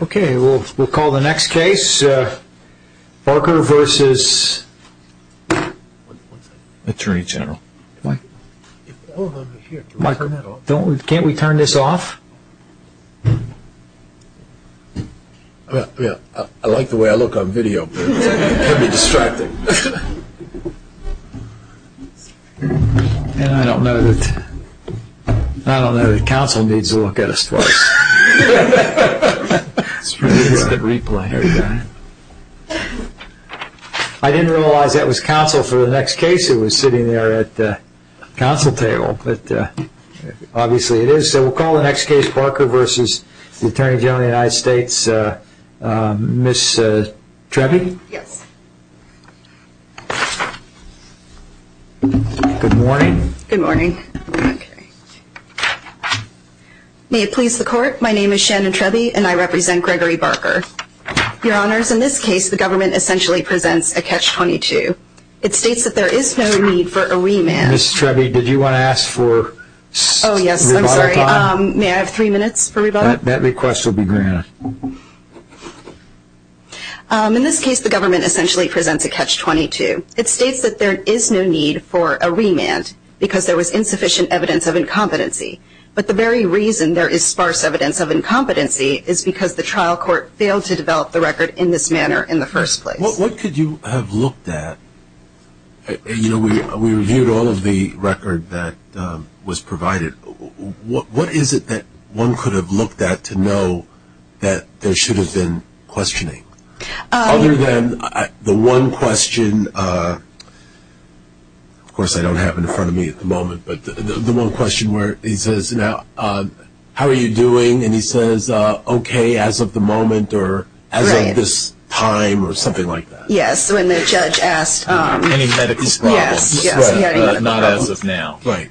Okay, we'll call the next case. Barker v. Attorney General. Mike, can't we turn this off? I like the way I look on video, but it can be distracting. I don't know that counsel needs to look at us twice. I didn't realize that was counsel for the next case. It was sitting there at the counsel table, but obviously it is. Okay, we'll call the next case. Barker v. Attorney General of the United States. Ms. Treby? Yes. Good morning. Good morning. May it please the court, my name is Shannon Treby and I represent Gregory Barker. Your honors, in this case the government essentially presents a catch-22. It states that there is no need for a remand. Ms. Treby, did you want to ask for rebuttal time? Oh yes, I'm sorry. May I have three minutes for rebuttal? That request will be granted. In this case, the government essentially presents a catch-22. It states that there is no need for a remand because there was insufficient evidence of incompetency. But the very reason there is sparse evidence of incompetency is because the trial court failed to develop the record in this manner in the first place. What could you have looked at? You know, we reviewed all of the record that was provided. What is it that one could have looked at to know that there should have been questioning? Other than the one question, of course I don't have it in front of me at the moment, but the one question where he says, how are you doing? And he says, okay, as of the moment or as of this time or something like that. Yes, when the judge asked. Any medical problems. Yes. Not as of now. Right.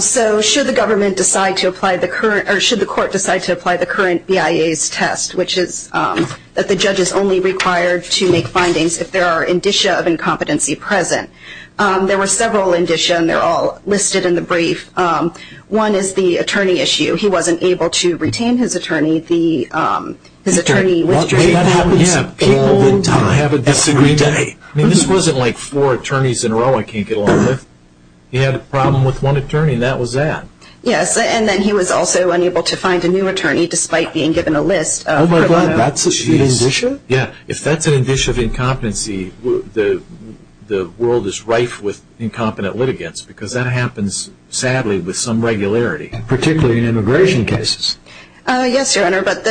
So should the government decide to apply the current, or should the court decide to apply the current BIA's test, which is that the judge is only required to make findings if there are indicia of incompetency present. There were several indicia, and they're all listed in the brief. One is the attorney issue. He wasn't able to retain his attorney. His attorney withdrew. That happens. People have a disagreement. I mean, this wasn't like four attorneys in a row I can't get along with. He had a problem with one attorney, and that was that. Yes, and then he was also unable to find a new attorney despite being given a list. Oh, my God, that's an indicia? Yes, if that's an indicia of incompetency, the world is rife with incompetent litigants because that happens, sadly, with some regularity. Particularly in immigration cases. Yes, Your Honor, but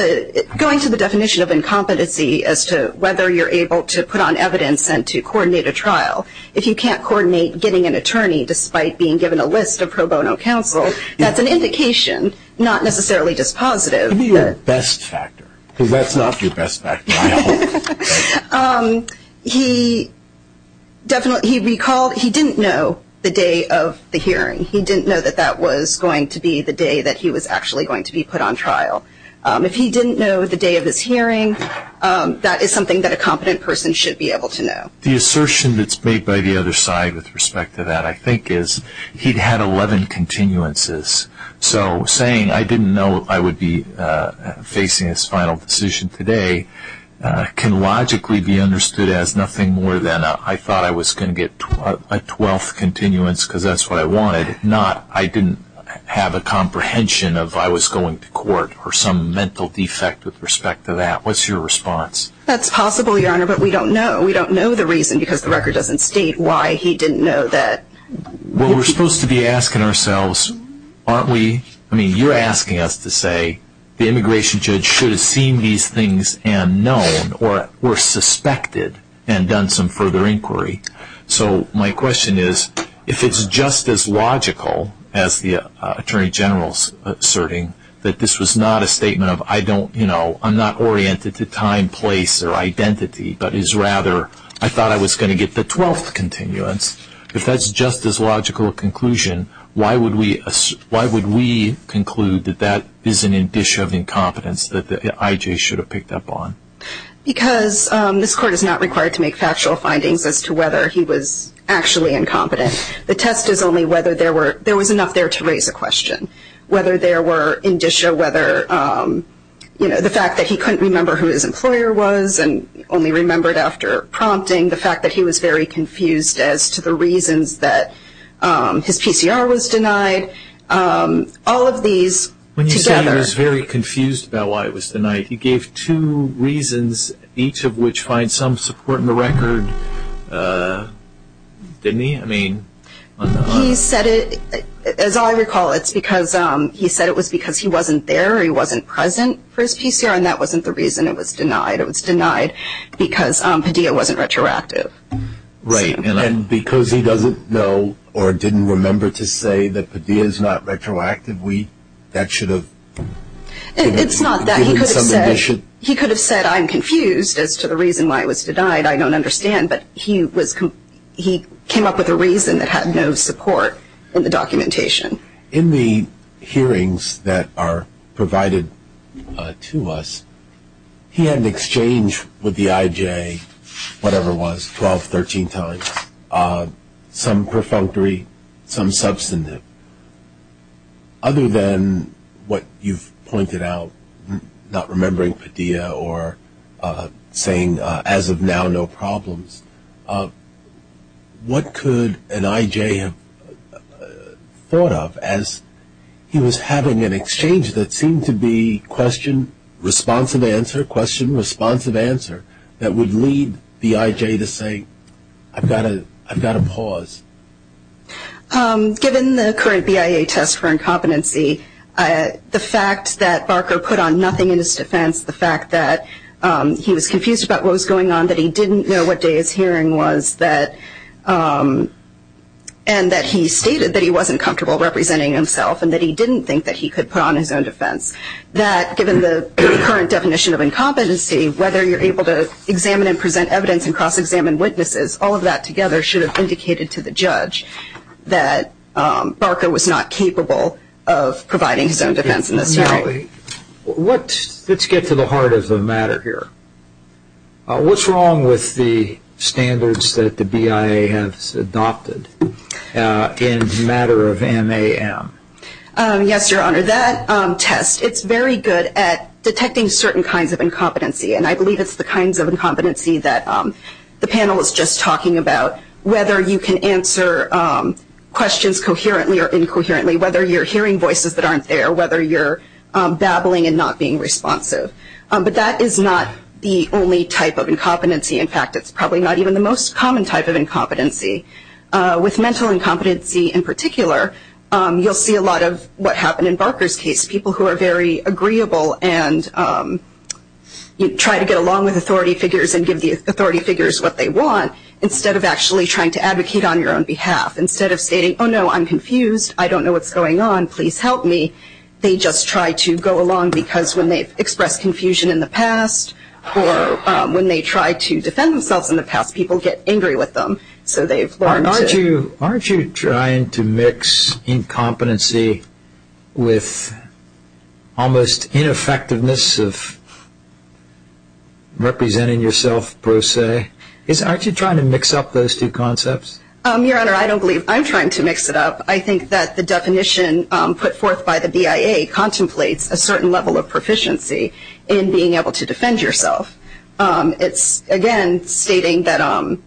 going to the definition of incompetency as to whether you're able to put on evidence and to coordinate a trial, if you can't coordinate getting an attorney despite being given a list of pro bono counsel, that's an indication, not necessarily just positive. Give me your best factor because that's not your best factor, I hope. He recalled he didn't know the day of the hearing. He didn't know that that was going to be the day that he was actually going to be put on trial. If he didn't know the day of his hearing, that is something that a competent person should be able to know. The assertion that's made by the other side with respect to that, I think, is he'd had 11 continuances. So saying, I didn't know I would be facing this final decision today, can logically be understood as nothing more than I thought I was going to get a 12th continuance because that's what I wanted, not I didn't have a comprehension of I was going to court or some mental defect with respect to that. What's your response? That's possible, Your Honor, but we don't know. We don't know the reason because the record doesn't state why he didn't know that. Well, we're supposed to be asking ourselves, aren't we? I mean, you're asking us to say the immigration judge should have seen these things and known or suspected and done some further inquiry. So my question is, if it's just as logical as the Attorney General's asserting that this was not a statement of I'm not oriented to time, place, or identity, but is rather I thought I was going to get the 12th continuance, if that's just as logical a conclusion, why would we conclude that that is an indicia of incompetence that I.J. should have picked up on? Because this Court is not required to make factual findings as to whether he was actually incompetent. The test is only whether there was enough there to raise a question, whether there were indicia, whether the fact that he couldn't remember who his employer was and only remembered after prompting, the fact that he was very confused as to the reasons that his PCR was denied, all of these together. When you say he was very confused about why it was denied, he gave two reasons, each of which find some support in the record, didn't he? He said it, as I recall, it's because he said it was because he wasn't there, he wasn't present for his PCR, and that wasn't the reason it was denied. It was denied because Padilla wasn't retroactive. Right. And because he doesn't know or didn't remember to say that Padilla is not retroactive, that should have... It's not that. He could have said I'm confused as to the reason why it was denied, I don't understand, but he came up with a reason that had no support in the documentation. In the hearings that are provided to us, he had an exchange with the IJ, whatever it was, 12, 13 times, some perfunctory, some substantive. Other than what you've pointed out, not remembering Padilla or saying as of now no problems, what could an IJ have thought of as he was having an exchange that seemed to be question, responsive answer, question, responsive answer, that would lead the IJ to say I've got to pause. Given the current BIA test for incompetency, the fact that Barker put on nothing in his defense, the fact that he was confused about what was going on, that he didn't know what day his hearing was, and that he stated that he wasn't comfortable representing himself and that he didn't think that he could put on his own defense, that given the current definition of incompetency, whether you're able to examine and present evidence and cross-examine witnesses, all of that together should have indicated to the judge that Barker was not capable of providing his own defense in this hearing. Let's get to the heart of the matter here. What's wrong with the standards that the BIA has adopted in the matter of MAM? Yes, Your Honor, that test, it's very good at detecting certain kinds of incompetency, and I believe it's the kinds of incompetency that the panel is just talking about, whether you can answer questions coherently or incoherently, whether you're hearing voices that aren't there, or whether you're babbling and not being responsive. But that is not the only type of incompetency. In fact, it's probably not even the most common type of incompetency. With mental incompetency in particular, you'll see a lot of what happened in Barker's case, people who are very agreeable and try to get along with authority figures and give the authority figures what they want instead of actually trying to advocate on your own behalf. Instead of stating, oh, no, I'm confused, I don't know what's going on, please help me, they just try to go along because when they've expressed confusion in the past or when they try to defend themselves in the past, people get angry with them. Aren't you trying to mix incompetency with almost ineffectiveness of representing yourself, per se? Aren't you trying to mix up those two concepts? Your Honor, I don't believe I'm trying to mix it up. I think that the definition put forth by the BIA contemplates a certain level of proficiency in being able to defend yourself. It's, again, stating that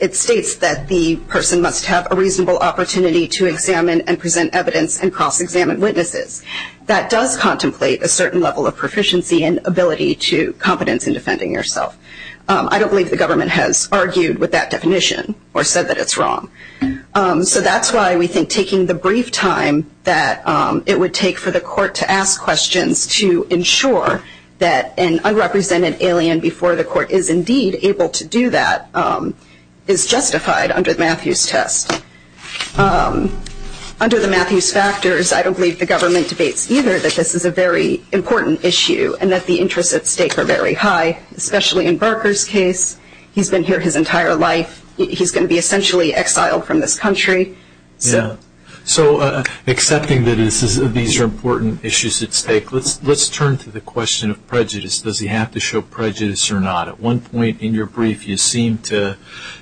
it states that the person must have a reasonable opportunity to examine and present evidence and cross-examine witnesses. That does contemplate a certain level of proficiency and ability to competence in defending yourself. I don't believe the government has argued with that definition or said that it's wrong. So that's why we think taking the brief time that it would take for the court to ask questions to ensure that an unrepresented alien before the court is indeed able to do that is justified under the Matthews test. Under the Matthews factors, I don't believe the government debates either that this is a very important issue and that the interests at stake are very high, especially in Barker's case. He's been here his entire life. He's going to be essentially exiled from this country. Yeah. So accepting that these are important issues at stake, let's turn to the question of prejudice. Does he have to show prejudice or not? At one point in your brief, you seem to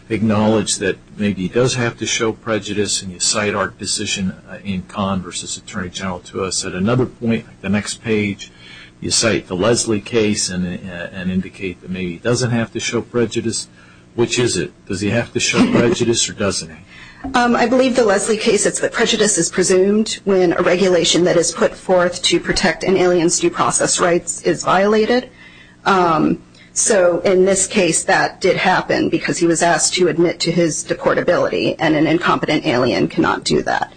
acknowledge that maybe he does have to show prejudice, and you cite our position in Conn v. Attorney General to us. At another point, the next page, you cite the Leslie case and indicate that maybe he doesn't have to show prejudice. Which is it? Does he have to show prejudice or doesn't he? I believe the Leslie case is that prejudice is presumed when a regulation that is put forth to protect an alien's due process rights is violated. So in this case, that did happen because he was asked to admit to his deportability, and an incompetent alien cannot do that.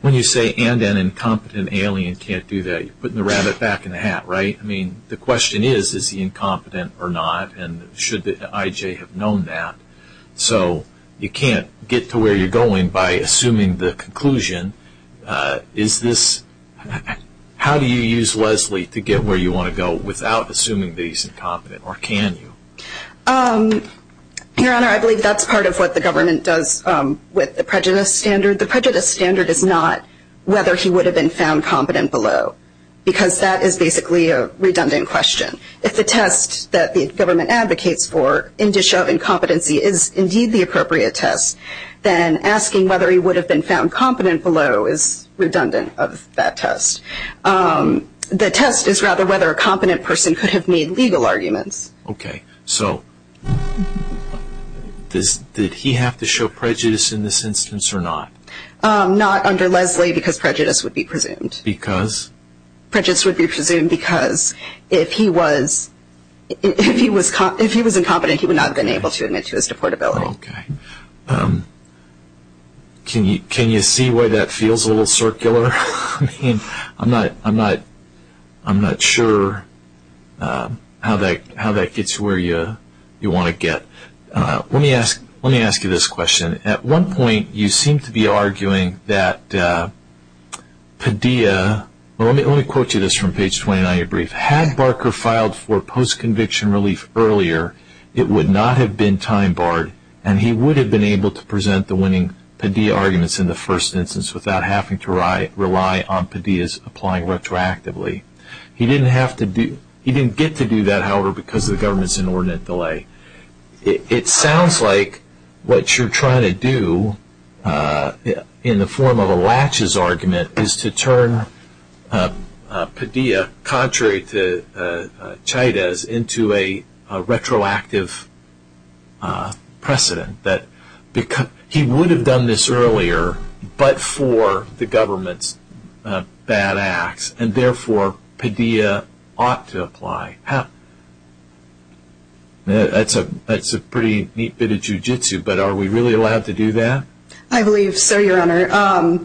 When you say, and an incompetent alien can't do that, you're putting the rabbit back in the hat, right? I mean, the question is, is he incompetent or not, and should the IJ have known that? So you can't get to where you're going by assuming the conclusion. How do you use Leslie to get where you want to go without assuming that he's incompetent, or can you? Your Honor, I believe that's part of what the government does with the prejudice standard. The prejudice standard is not whether he would have been found competent below, because that is basically a redundant question. If the test that the government advocates for in the show of incompetency is indeed the appropriate test, then asking whether he would have been found competent below is redundant of that test. The test is rather whether a competent person could have made legal arguments. Okay. So did he have to show prejudice in this instance or not? Not under Leslie, because prejudice would be presumed. Because? Prejudice would be presumed because if he was incompetent, he would not have been able to admit to his deportability. Okay. Can you see why that feels a little circular? I mean, I'm not sure how that gets you where you want to get. Let me ask you this question. At one point, you seem to be arguing that Padilla, well, let me quote you this from page 29 of your brief. Had Barker filed for post-conviction relief earlier, it would not have been time barred, and he would have been able to present the winning Padilla arguments in the first instance without having to rely on Padilla's applying retroactively. He didn't get to do that, however, because of the government's inordinate delay. It sounds like what you're trying to do in the form of a latches argument is to turn Padilla, contrary to Chávez, into a retroactive precedent. He would have done this earlier, but for the government's bad acts, and therefore Padilla ought to apply. That's a pretty neat bit of jiu-jitsu, but are we really allowed to do that? I believe so, Your Honor.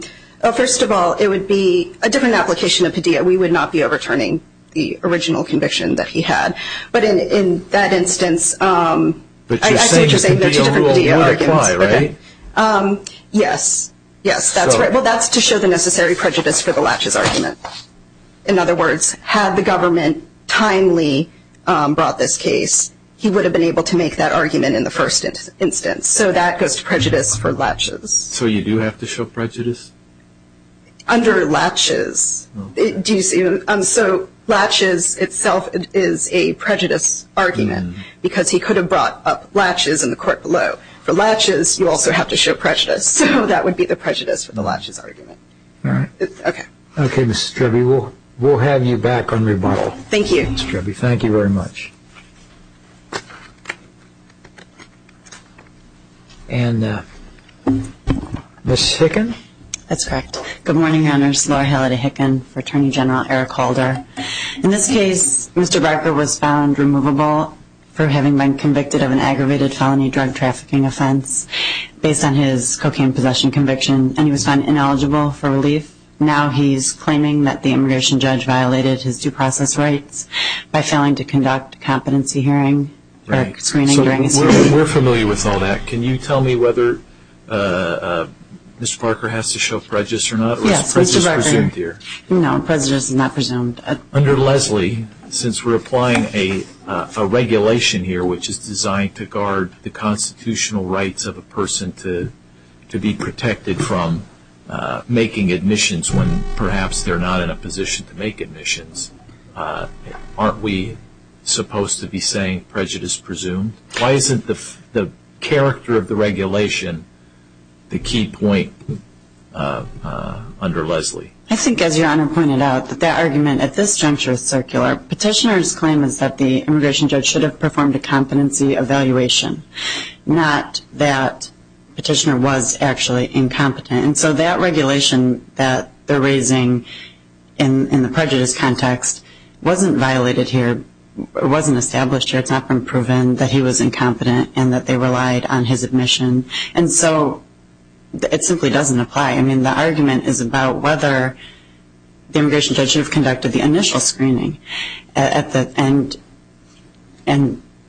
First of all, it would be a different application of Padilla. We would not be overturning the original conviction that he had. But in that instance, I think the Padilla rule would apply, right? Yes, that's right. Well, that's to show the necessary prejudice for the latches argument. In other words, had the government timely brought this case, he would have been able to make that argument in the first instance. So that goes to prejudice for latches. So you do have to show prejudice? Under latches. So latches itself is a prejudice argument because he could have brought up latches in the court below. For latches, you also have to show prejudice, so that would be the prejudice for the latches argument. All right. Okay. Okay, Ms. Treby, we'll have you back on rebuttal. Thank you. Ms. Treby, thank you very much. And Ms. Hicken? That's correct. Good morning, Your Honor. This is Laura Halliday Hicken for Attorney General Eric Holder. In this case, Mr. Barker was found removable for having been convicted of an aggravated felony drug trafficking offense based on his cocaine possession conviction, and he was found ineligible for relief. Now he's claiming that the immigration judge violated his due process rights by failing to conduct a competency hearing. We're familiar with all that. Can you tell me whether Mr. Barker has to show prejudice or not? Yes, Mr. Barker. Or is prejudice presumed here? No, prejudice is not presumed. Under Leslie, since we're applying a regulation here which is designed to guard the constitutional rights of a person to be protected from making admissions when perhaps they're not in a position to make admissions, aren't we supposed to be saying prejudice presumed? Why isn't the character of the regulation the key point under Leslie? I think, as Your Honor pointed out, that that argument at this juncture is circular. Petitioner's claim is that the immigration judge should have performed a competency evaluation, not that petitioner was actually incompetent. And so that regulation that they're raising in the prejudice context wasn't violated here, wasn't established here. It's not been proven that he was incompetent and that they relied on his admission. And so it simply doesn't apply. I mean, the argument is about whether the immigration judge should have conducted the initial screening. And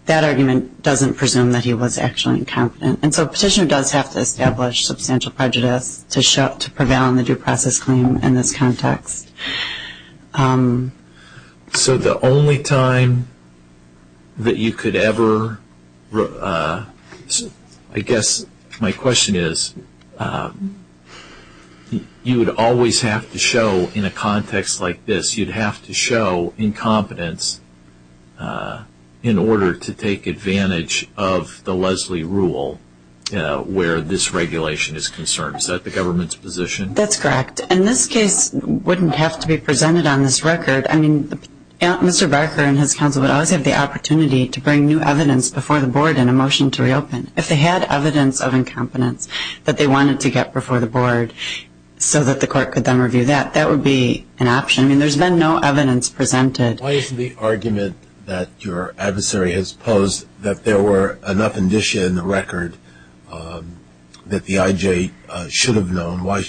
that argument doesn't presume that he was actually incompetent. And so petitioner does have to establish substantial prejudice to prevail on the due process claim in this context. So the only time that you could ever, I guess my question is, you would always have to show in a context like this, you'd have to show incompetence in order to take advantage of the Leslie rule where this regulation is concerned. Is that the government's position? That's correct. And this case wouldn't have to be presented on this record. I mean, Mr. Barker and his counsel would always have the opportunity to bring new evidence before the board in a motion to reopen. If they had evidence of incompetence that they wanted to get before the board so that the court could then review that, that would be an option. I mean, there's been no evidence presented. Why is the argument that your adversary has posed that there were enough indicia in the record that the IJ should have known? Why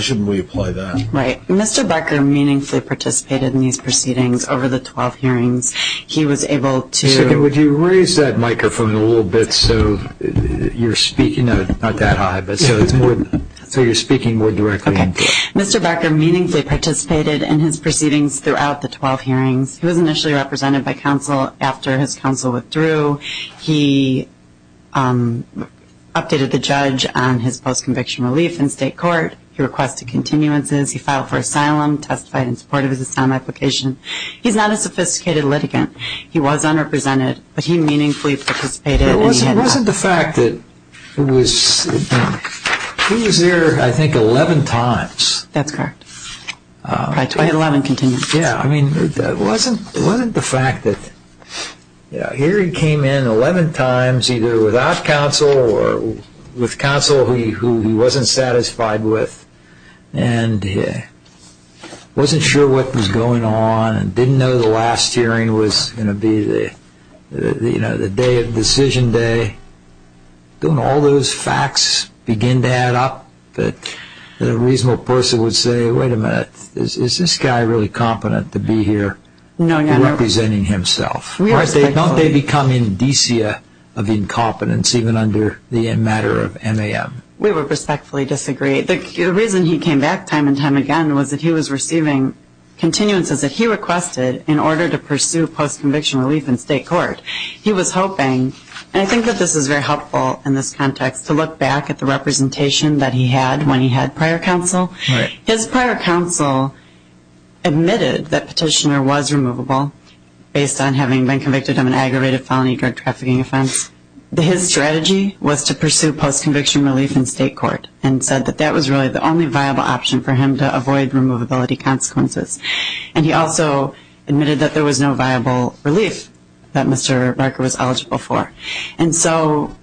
shouldn't we apply that? Right. Mr. Barker meaningfully participated in these proceedings over the 12 hearings. He was able to – Would you raise that microphone a little bit so you're speaking? Not that high, but so you're speaking more directly. Okay. Mr. Barker meaningfully participated in his proceedings throughout the 12 hearings. He was initially represented by counsel after his counsel withdrew. He updated the judge on his post-conviction relief in state court. He requested continuances. He filed for asylum, testified in support of his asylum application. He's not a sophisticated litigant. He was unrepresented, but he meaningfully participated. It wasn't the fact that it was – he was there, I think, 11 times. That's correct, by 2011 continuances. Yeah, I mean, it wasn't the fact that – hearing came in 11 times either without counsel or with counsel who he wasn't satisfied with and wasn't sure what was going on and didn't know the last hearing was going to be the day of decision day. Don't all those facts begin to add up? A reasonable person would say, wait a minute, is this guy really competent to be here representing himself? Don't they become indicia of incompetence even under the matter of MAM? We would respectfully disagree. The reason he came back time and time again was that he was receiving continuances that he requested in order to pursue post-conviction relief in state court. He was hoping, and I think that this is very helpful in this context, to look back at the representation that he had when he had prior counsel. His prior counsel admitted that Petitioner was removable based on having been convicted of an aggravated felony drug trafficking offense. His strategy was to pursue post-conviction relief in state court and said that that was really the only viable option for him to avoid removability consequences. And he also admitted that there was no viable relief that Mr. Barker was eligible for. And so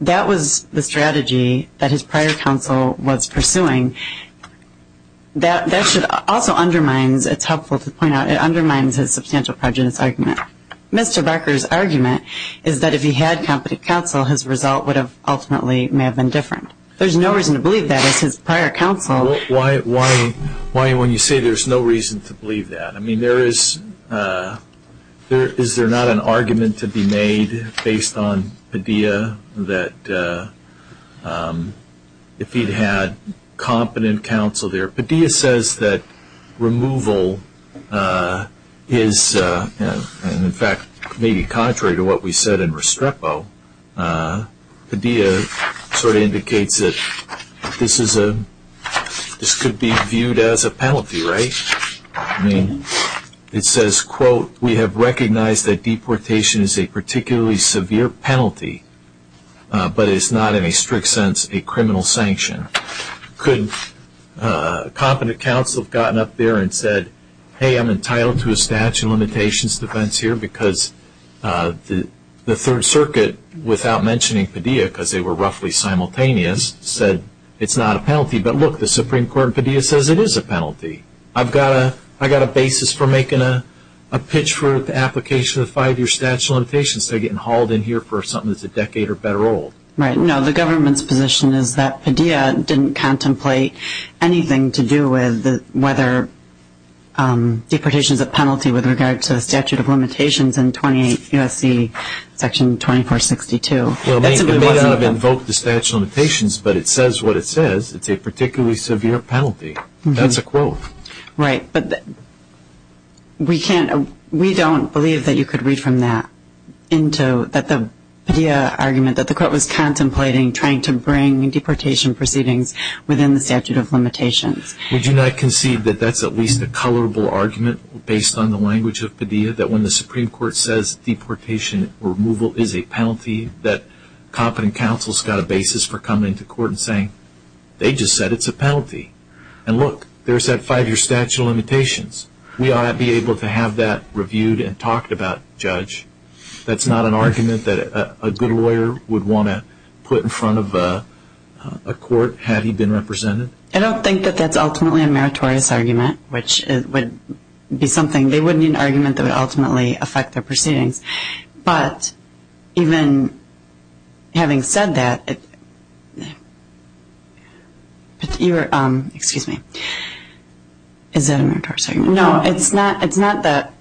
that was the strategy that his prior counsel was pursuing. That also undermines, it's helpful to point out, it undermines his substantial prejudice argument. Mr. Barker's argument is that if he had competent counsel, his result would have ultimately may have been different. There's no reason to believe that as his prior counsel. Why when you say there's no reason to believe that? I mean, is there not an argument to be made based on Padilla that if he'd had competent counsel there? Padilla says that removal is, in fact, maybe contrary to what we said in Restrepo. Padilla sort of indicates that this could be viewed as a penalty, right? I mean, it says, quote, we have recognized that deportation is a particularly severe penalty, but it's not in a strict sense a criminal sanction. Could competent counsel have gotten up there and said, hey, I'm entitled to a statute of limitations defense here because the Third Circuit, without mentioning Padilla because they were roughly simultaneous, said it's not a penalty. But look, the Supreme Court in Padilla says it is a penalty. I've got a basis for making a pitch for the application of the five-year statute of limitations instead of getting hauled in here for something that's a decade or better old. Right. No, the government's position is that Padilla didn't contemplate anything to do with whether deportation is a penalty with regard to the statute of limitations in 28 U.S.C. section 2462. It may not have invoked the statute of limitations, but it says what it says. It's a particularly severe penalty. That's a quote. Right. But we don't believe that you could read from that that the Padilla argument, that the court was contemplating trying to bring deportation proceedings within the statute of limitations. Would you not concede that that's at least a colorable argument based on the language of Padilla, that when the Supreme Court says deportation removal is a penalty, that competent counsel's got a basis for coming to court and saying, they just said it's a penalty. And look, there's that five-year statute of limitations. We ought to be able to have that reviewed and talked about, Judge. That's not an argument that a good lawyer would want to put in front of a court had he been represented. I don't think that that's ultimately a meritorious argument, which would be something. They wouldn't need an argument that would ultimately affect their proceedings. But even having said that, you were, excuse me, is that a meritorious argument? No, it's not that.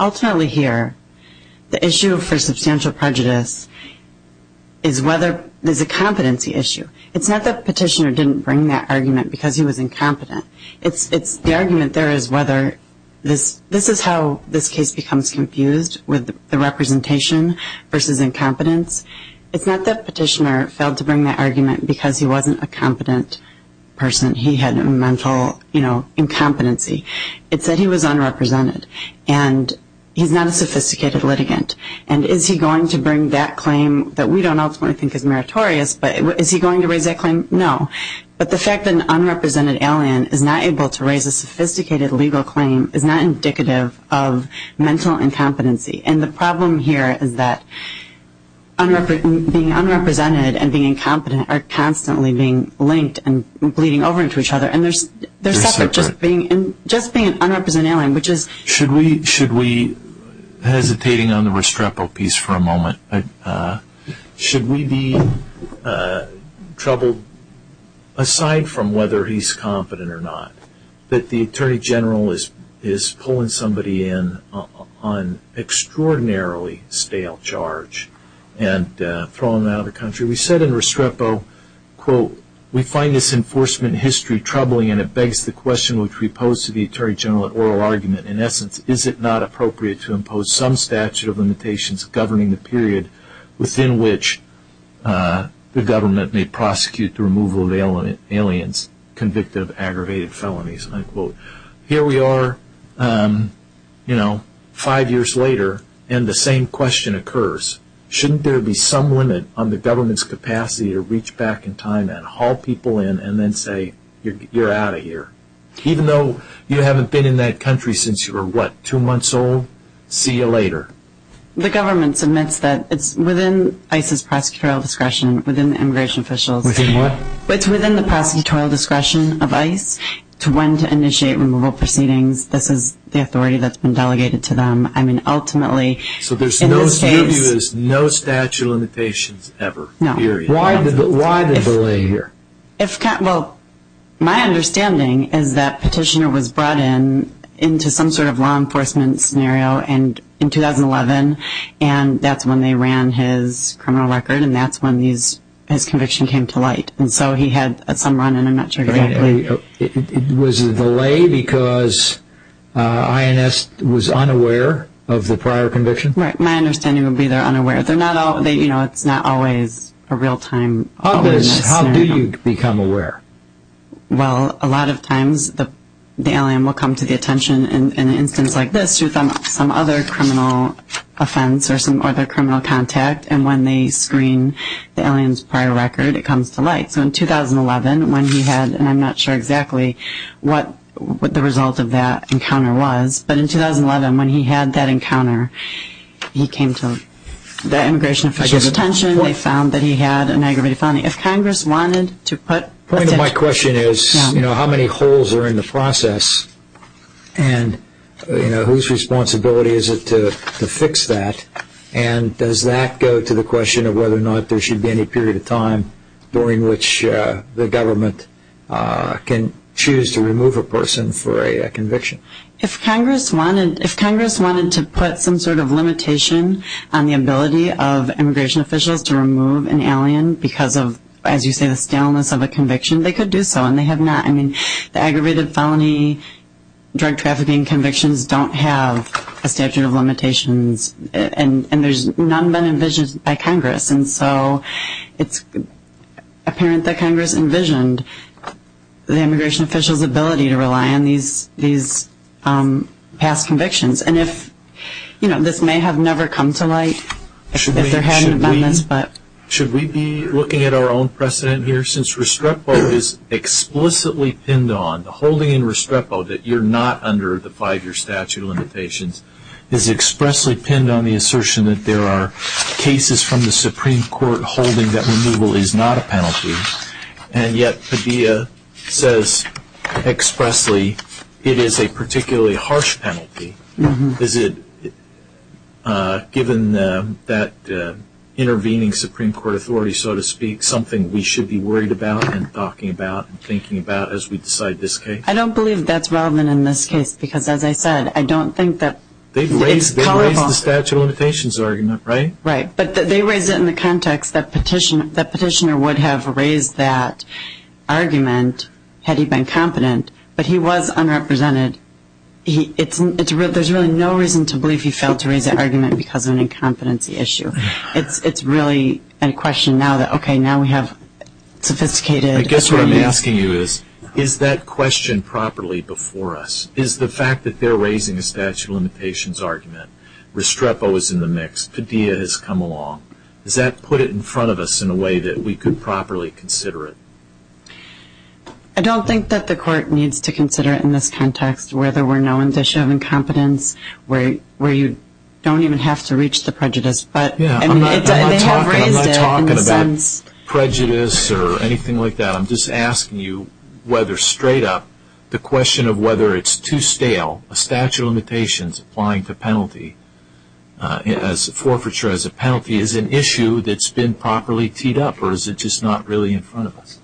Ultimately here, the issue for substantial prejudice is whether there's a competency issue. It's not that Petitioner didn't bring that argument because he was incompetent. The argument there is whether this is how this case becomes confused with the representation versus incompetence. It's not that Petitioner failed to bring that argument because he wasn't a competent person. He had a mental, you know, incompetency. It's that he was unrepresented, and he's not a sophisticated litigant. And is he going to bring that claim that we don't ultimately think is meritorious, but is he going to raise that claim? No. But the fact that an unrepresented alien is not able to raise a sophisticated legal claim is not indicative of mental incompetency. And the problem here is that being unrepresented and being incompetent are constantly being linked and bleeding over into each other, and they're separate. Just being an unrepresented alien, which is- Should we, hesitating on the Restrepo piece for a moment, should we be troubled, aside from whether he's competent or not, that the Attorney General is pulling somebody in on extraordinarily stale charge and throwing them out of the country? We said in Restrepo, quote, We find this enforcement history troubling, and it begs the question which we pose to the Attorney General at oral argument, in essence, is it not appropriate to impose some statute of limitations governing the period within which the government may prosecute the removal of aliens convicted of aggravated felonies? End quote. Here we are, you know, five years later, and the same question occurs. Shouldn't there be some limit on the government's capacity to reach back in time and haul people in and then say, you're out of here? Even though you haven't been in that country since you were, what, two months old? See you later. The government submits that it's within ICE's prosecutorial discretion, within the immigration officials- Within what? It's within the prosecutorial discretion of ICE to when to initiate removal proceedings. This is the authority that's been delegated to them. I mean, ultimately, in this case- So there's no statute of limitations ever? No. Period. Why the delay here? Well, my understanding is that Petitioner was brought in into some sort of law enforcement scenario in 2011, and that's when they ran his criminal record, and that's when his conviction came to light. And so he had some run-in, I'm not sure exactly- Was it a delay because INS was unaware of the prior conviction? Right, my understanding would be they're unaware. It's not always a real-time- How do you become aware? Well, a lot of times the alien will come to the attention in an instance like this with some other criminal offense or some other criminal contact, and when they screen the alien's prior record, it comes to light. So in 2011, when he had, and I'm not sure exactly what the result of that encounter was, but in 2011, when he had that encounter, he came to the immigration officials' attention. They found that he had an aggravated felony. If Congress wanted to put- The point of my question is how many holes are in the process, and whose responsibility is it to fix that, and does that go to the question of whether or not there should be any period of time during which the government can choose to remove a person for a conviction? If Congress wanted to put some sort of limitation on the ability of immigration officials to remove an alien because of, as you say, the staleness of a conviction, they could do so, and they have not. I mean, the aggravated felony drug trafficking convictions don't have a statute of limitations, and there's none been envisioned by Congress. And so it's apparent that Congress envisioned the immigration officials' ability to rely on these past convictions. And this may have never come to light if there had been amendments, but- Should we be looking at our own precedent here? Since Restrepo is explicitly pinned on, the holding in Restrepo that you're not under the five-year statute of limitations is expressly pinned on the assertion that there are cases from the Supreme Court holding that removal is not a penalty, and yet Padilla says expressly it is a particularly harsh penalty. Is it, given that intervening Supreme Court authority, so to speak, something we should be worried about and talking about and thinking about as we decide this case? I don't believe that's relevant in this case because, as I said, I don't think that- They've raised the statute of limitations argument, right? Right, but they raised it in the context that Petitioner would have raised that argument had he been competent, but he was unrepresented. There's really no reason to believe he failed to raise that argument because of an incompetency issue. It's really a question now that, okay, now we have sophisticated- I guess what I'm asking you is, is that question properly before us? Is the fact that they're raising a statute of limitations argument, Restrepo is in the mix, Padilla has come along. Does that put it in front of us in a way that we could properly consider it? I don't think that the Court needs to consider it in this context, where there were no indicia of incompetence, where you don't even have to reach the prejudice, but- Yeah, I'm not talking about prejudice or anything like that. I'm just asking you whether straight up the question of whether it's too stale, a statute of limitations applying to penalty, forfeiture as a penalty, is an issue that's been properly teed up, or is it just not really in front of us?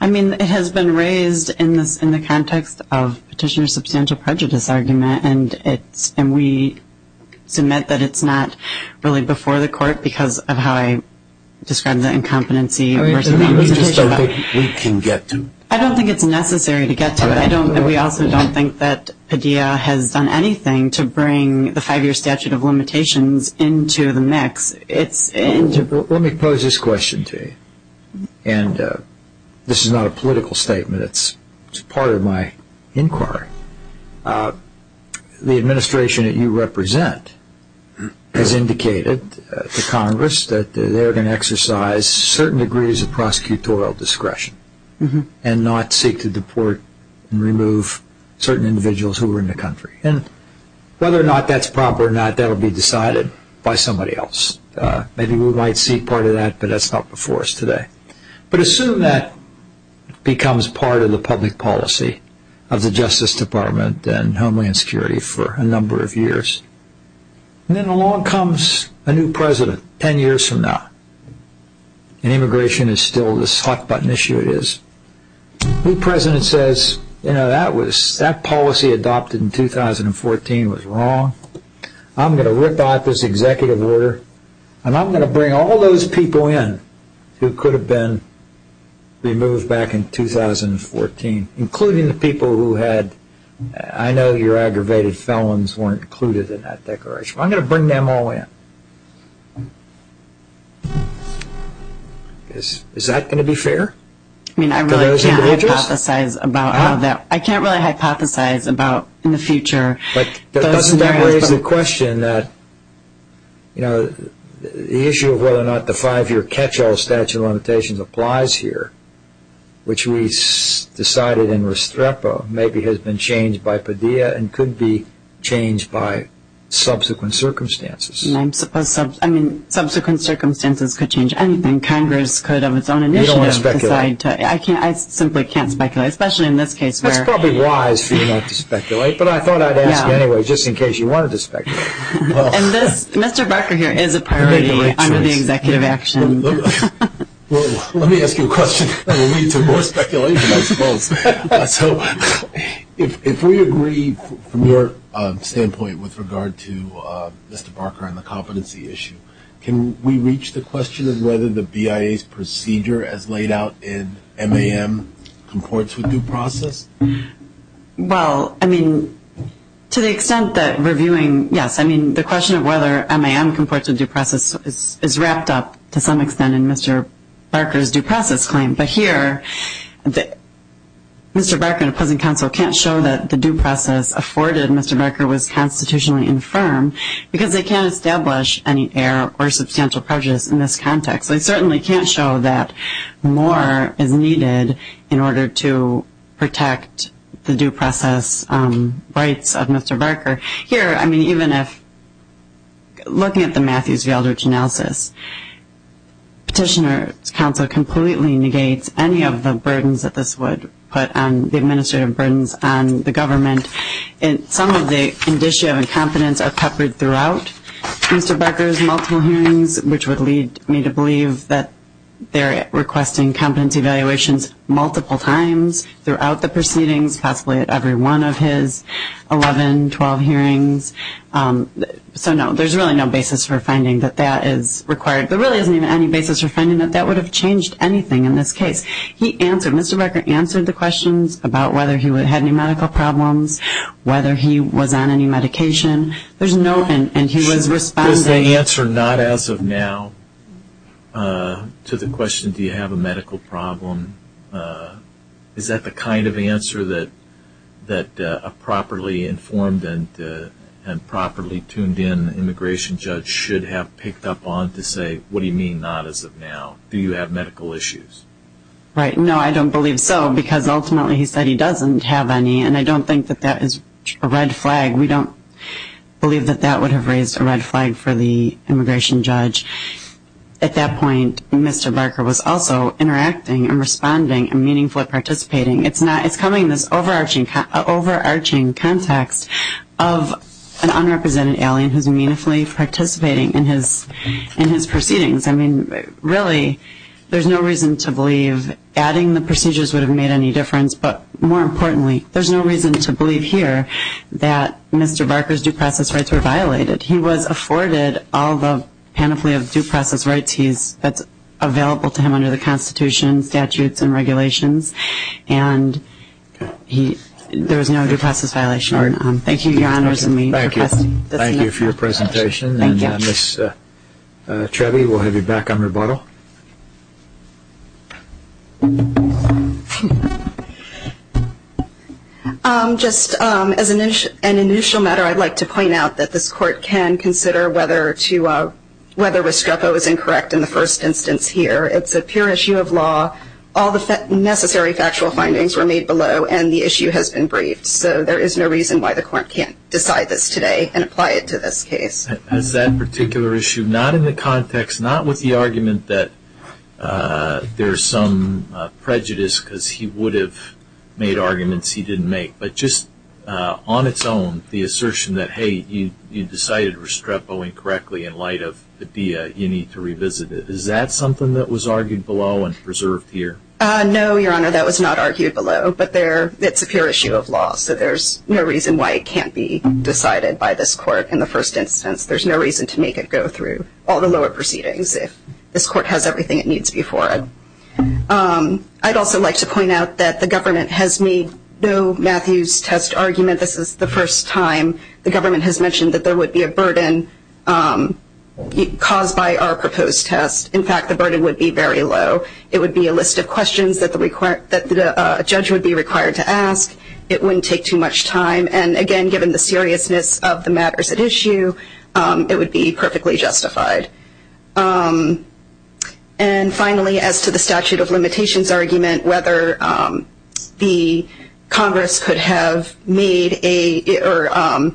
I mean, it has been raised in the context of Petitioner's substantial prejudice argument, and we submit that it's not really before the Court because of how I described the incompetency- Or you just don't think we can get to it? I don't think it's necessary to get to it. We also don't think that Padilla has done anything to bring the five-year statute of limitations into the mix. Let me pose this question to you, and this is not a political statement. It's part of my inquiry. The administration that you represent has indicated to Congress that they're going to exercise certain degrees of prosecutorial discretion and not seek to deport and remove certain individuals who are in the country. Whether or not that's proper or not, that will be decided by somebody else. Maybe we might seek part of that, but that's not before us today. But assume that becomes part of the public policy of the Justice Department and Homeland Security for a number of years. Then along comes a new president ten years from now, and immigration is still this hot-button issue it is. The new president says, you know, that policy adopted in 2014 was wrong. I'm going to rip out this executive order, and I'm going to bring all those people in who could have been removed back in 2014, including the people who had- I know your aggravated felons weren't included in that declaration. I'm going to bring them all in. Is that going to be fair to those individuals? I mean, I really can't hypothesize about how that- I can't really hypothesize about in the future those scenarios. But doesn't that raise the question that, you know, the issue of whether or not the five-year catch-all statute of limitations applies here, and could be changed by subsequent circumstances? I mean, subsequent circumstances could change anything. Congress could, of its own initiative- You don't want to speculate. I simply can't speculate, especially in this case where- It's probably wise for you not to speculate, but I thought I'd ask anyway just in case you wanted to speculate. And this, Mr. Barker here, is a priority under the executive action. So if we agree, from your standpoint, with regard to Mr. Barker and the competency issue, can we reach the question of whether the BIA's procedure as laid out in MAM comports with due process? Well, I mean, to the extent that reviewing-yes. I mean, the question of whether MAM comports with due process is wrapped up, to some extent, in Mr. Barker's due process claim. But here, Mr. Barker and the present counsel can't show that the due process afforded Mr. Barker was constitutionally infirm, because they can't establish any error or substantial prejudice in this context. They certainly can't show that more is needed in order to protect the due process rights of Mr. Barker. Here, I mean, even if-looking at the Matthews-Geldrich analysis, Petitioner's counsel completely negates any of the burdens that this would put on- the administrative burdens on the government. Some of the indicia of incompetence are peppered throughout Mr. Barker's multiple hearings, which would lead me to believe that they're requesting competence evaluations multiple times throughout the proceedings, possibly at every one of his 11, 12 hearings. So, no, there's really no basis for finding that that is required. There really isn't even any basis for finding that that would have changed anything in this case. He answered-Mr. Barker answered the questions about whether he had any medical problems, whether he was on any medication. There's no-and he was responding- Does the answer, not as of now, to the question, do you have a medical problem, is that the kind of answer that a properly informed and properly tuned-in immigration judge should have picked up on to say, what do you mean, not as of now? Do you have medical issues? Right, no, I don't believe so, because ultimately he said he doesn't have any, and I don't think that that is a red flag. We don't believe that that would have raised a red flag for the immigration judge. At that point, Mr. Barker was also interacting and responding and meaningfully participating. It's coming in this overarching context of an unrepresented alien who's meaningfully participating in his proceedings. I mean, really, there's no reason to believe adding the procedures would have made any difference, but more importantly, there's no reason to believe here that Mr. Barker's due process rights were violated. He was afforded all the panoply of due process rights that's available to him under the Constitution, statutes and regulations, and there was no due process violation. Thank you, Your Honors, and me. Thank you for your presentation, and Ms. Trevi, we'll have you back on rebuttal. Just as an initial matter, I'd like to point out that this Court can consider whether Restrepo is incorrect in the first instance here. It's a pure issue of law. All the necessary factual findings were made below, and the issue has been briefed, so there is no reason why the Court can't decide this today and apply it to this case. As that particular issue, not in the context, not with the argument that there's some prejudice because he would have made arguments he didn't make, but just on its own, the assertion that, hey, you decided Restrepo incorrectly in light of Padilla, you need to revisit it. Is that something that was argued below and preserved here? No, Your Honor, that was not argued below, but it's a pure issue of law, so there's no reason why it can't be decided by this Court in the first instance. There's no reason to make it go through all the lower proceedings if this Court has everything it needs before it. I'd also like to point out that the government has made no Matthews test argument. This is the first time the government has mentioned that there would be a burden caused by our proposed test. In fact, the burden would be very low. It would be a list of questions that a judge would be required to ask. It wouldn't take too much time. And again, given the seriousness of the matters at issue, it would be perfectly justified. And finally, as to the statute of limitations argument, whether the Congress could have made or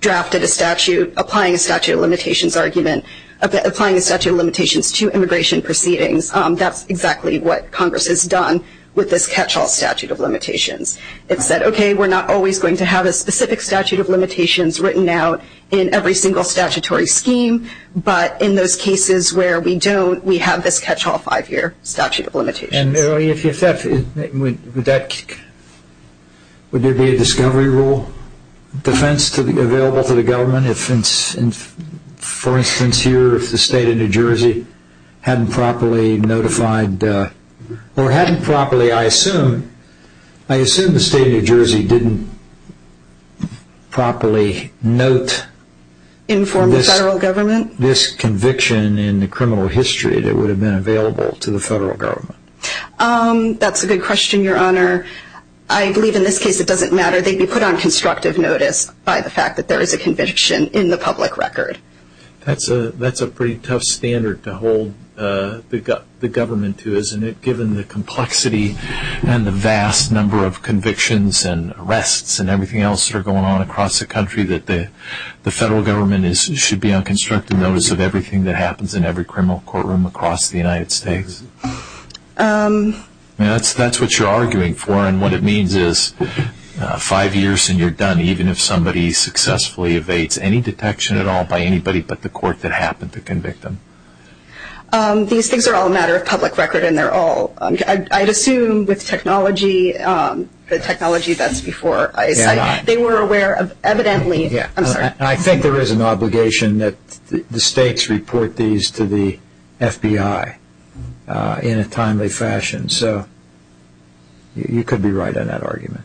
drafted a statute applying a statute of limitations argument, applying a statute of limitations to immigration proceedings, that's exactly what Congress has done with this catch-all statute of limitations. It said, okay, we're not always going to have a specific statute of limitations written out in every single statutory scheme, but in those cases where we don't, we have this catch-all five-year statute of limitations. And if that's – would there be a discovery rule defense available to the government if, for instance, here if the state of New Jersey hadn't properly notified – or hadn't properly, I assume – I assume the state of New Jersey didn't properly note this conviction in the criminal history that would have been available to the federal government. That's a good question, Your Honor. I believe in this case it doesn't matter. They'd be put on constructive notice by the fact that there is a conviction in the public record. That's a pretty tough standard to hold the government to, isn't it, given the complexity and the vast number of convictions and arrests and everything else that are going on across the country, that the federal government should be on constructive notice of everything that happens in every criminal courtroom across the United States? That's what you're arguing for. And what it means is five years and you're done, even if somebody successfully evades any detection at all by anybody but the court that happened to convict them. These things are all a matter of public record and they're all – I'd assume with technology, the technology that's before ICE, they were aware of evidently – I'm sorry. I think there is an obligation that the states report these to the FBI in a timely fashion. So you could be right on that argument.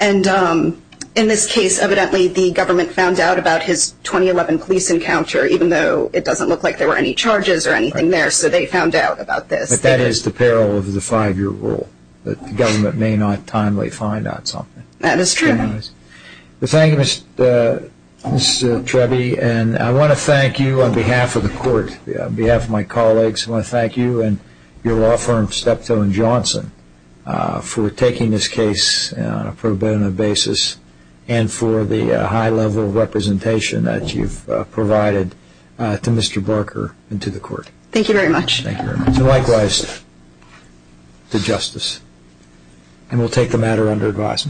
And in this case evidently the government found out about his 2011 police encounter, even though it doesn't look like there were any charges or anything there, so they found out about this. But that is the peril of the five-year rule, that the government may not timely find out something. That is true. Thank you, Ms. Treby, and I want to thank you on behalf of the court, on behalf of my colleagues, I want to thank you and your law firm, Steptoe & Johnson, for taking this case on a pro bono basis and for the high level of representation that you've provided to Mr. Barker and to the court. Thank you very much. Likewise to Justice. And we'll take the matter under advice.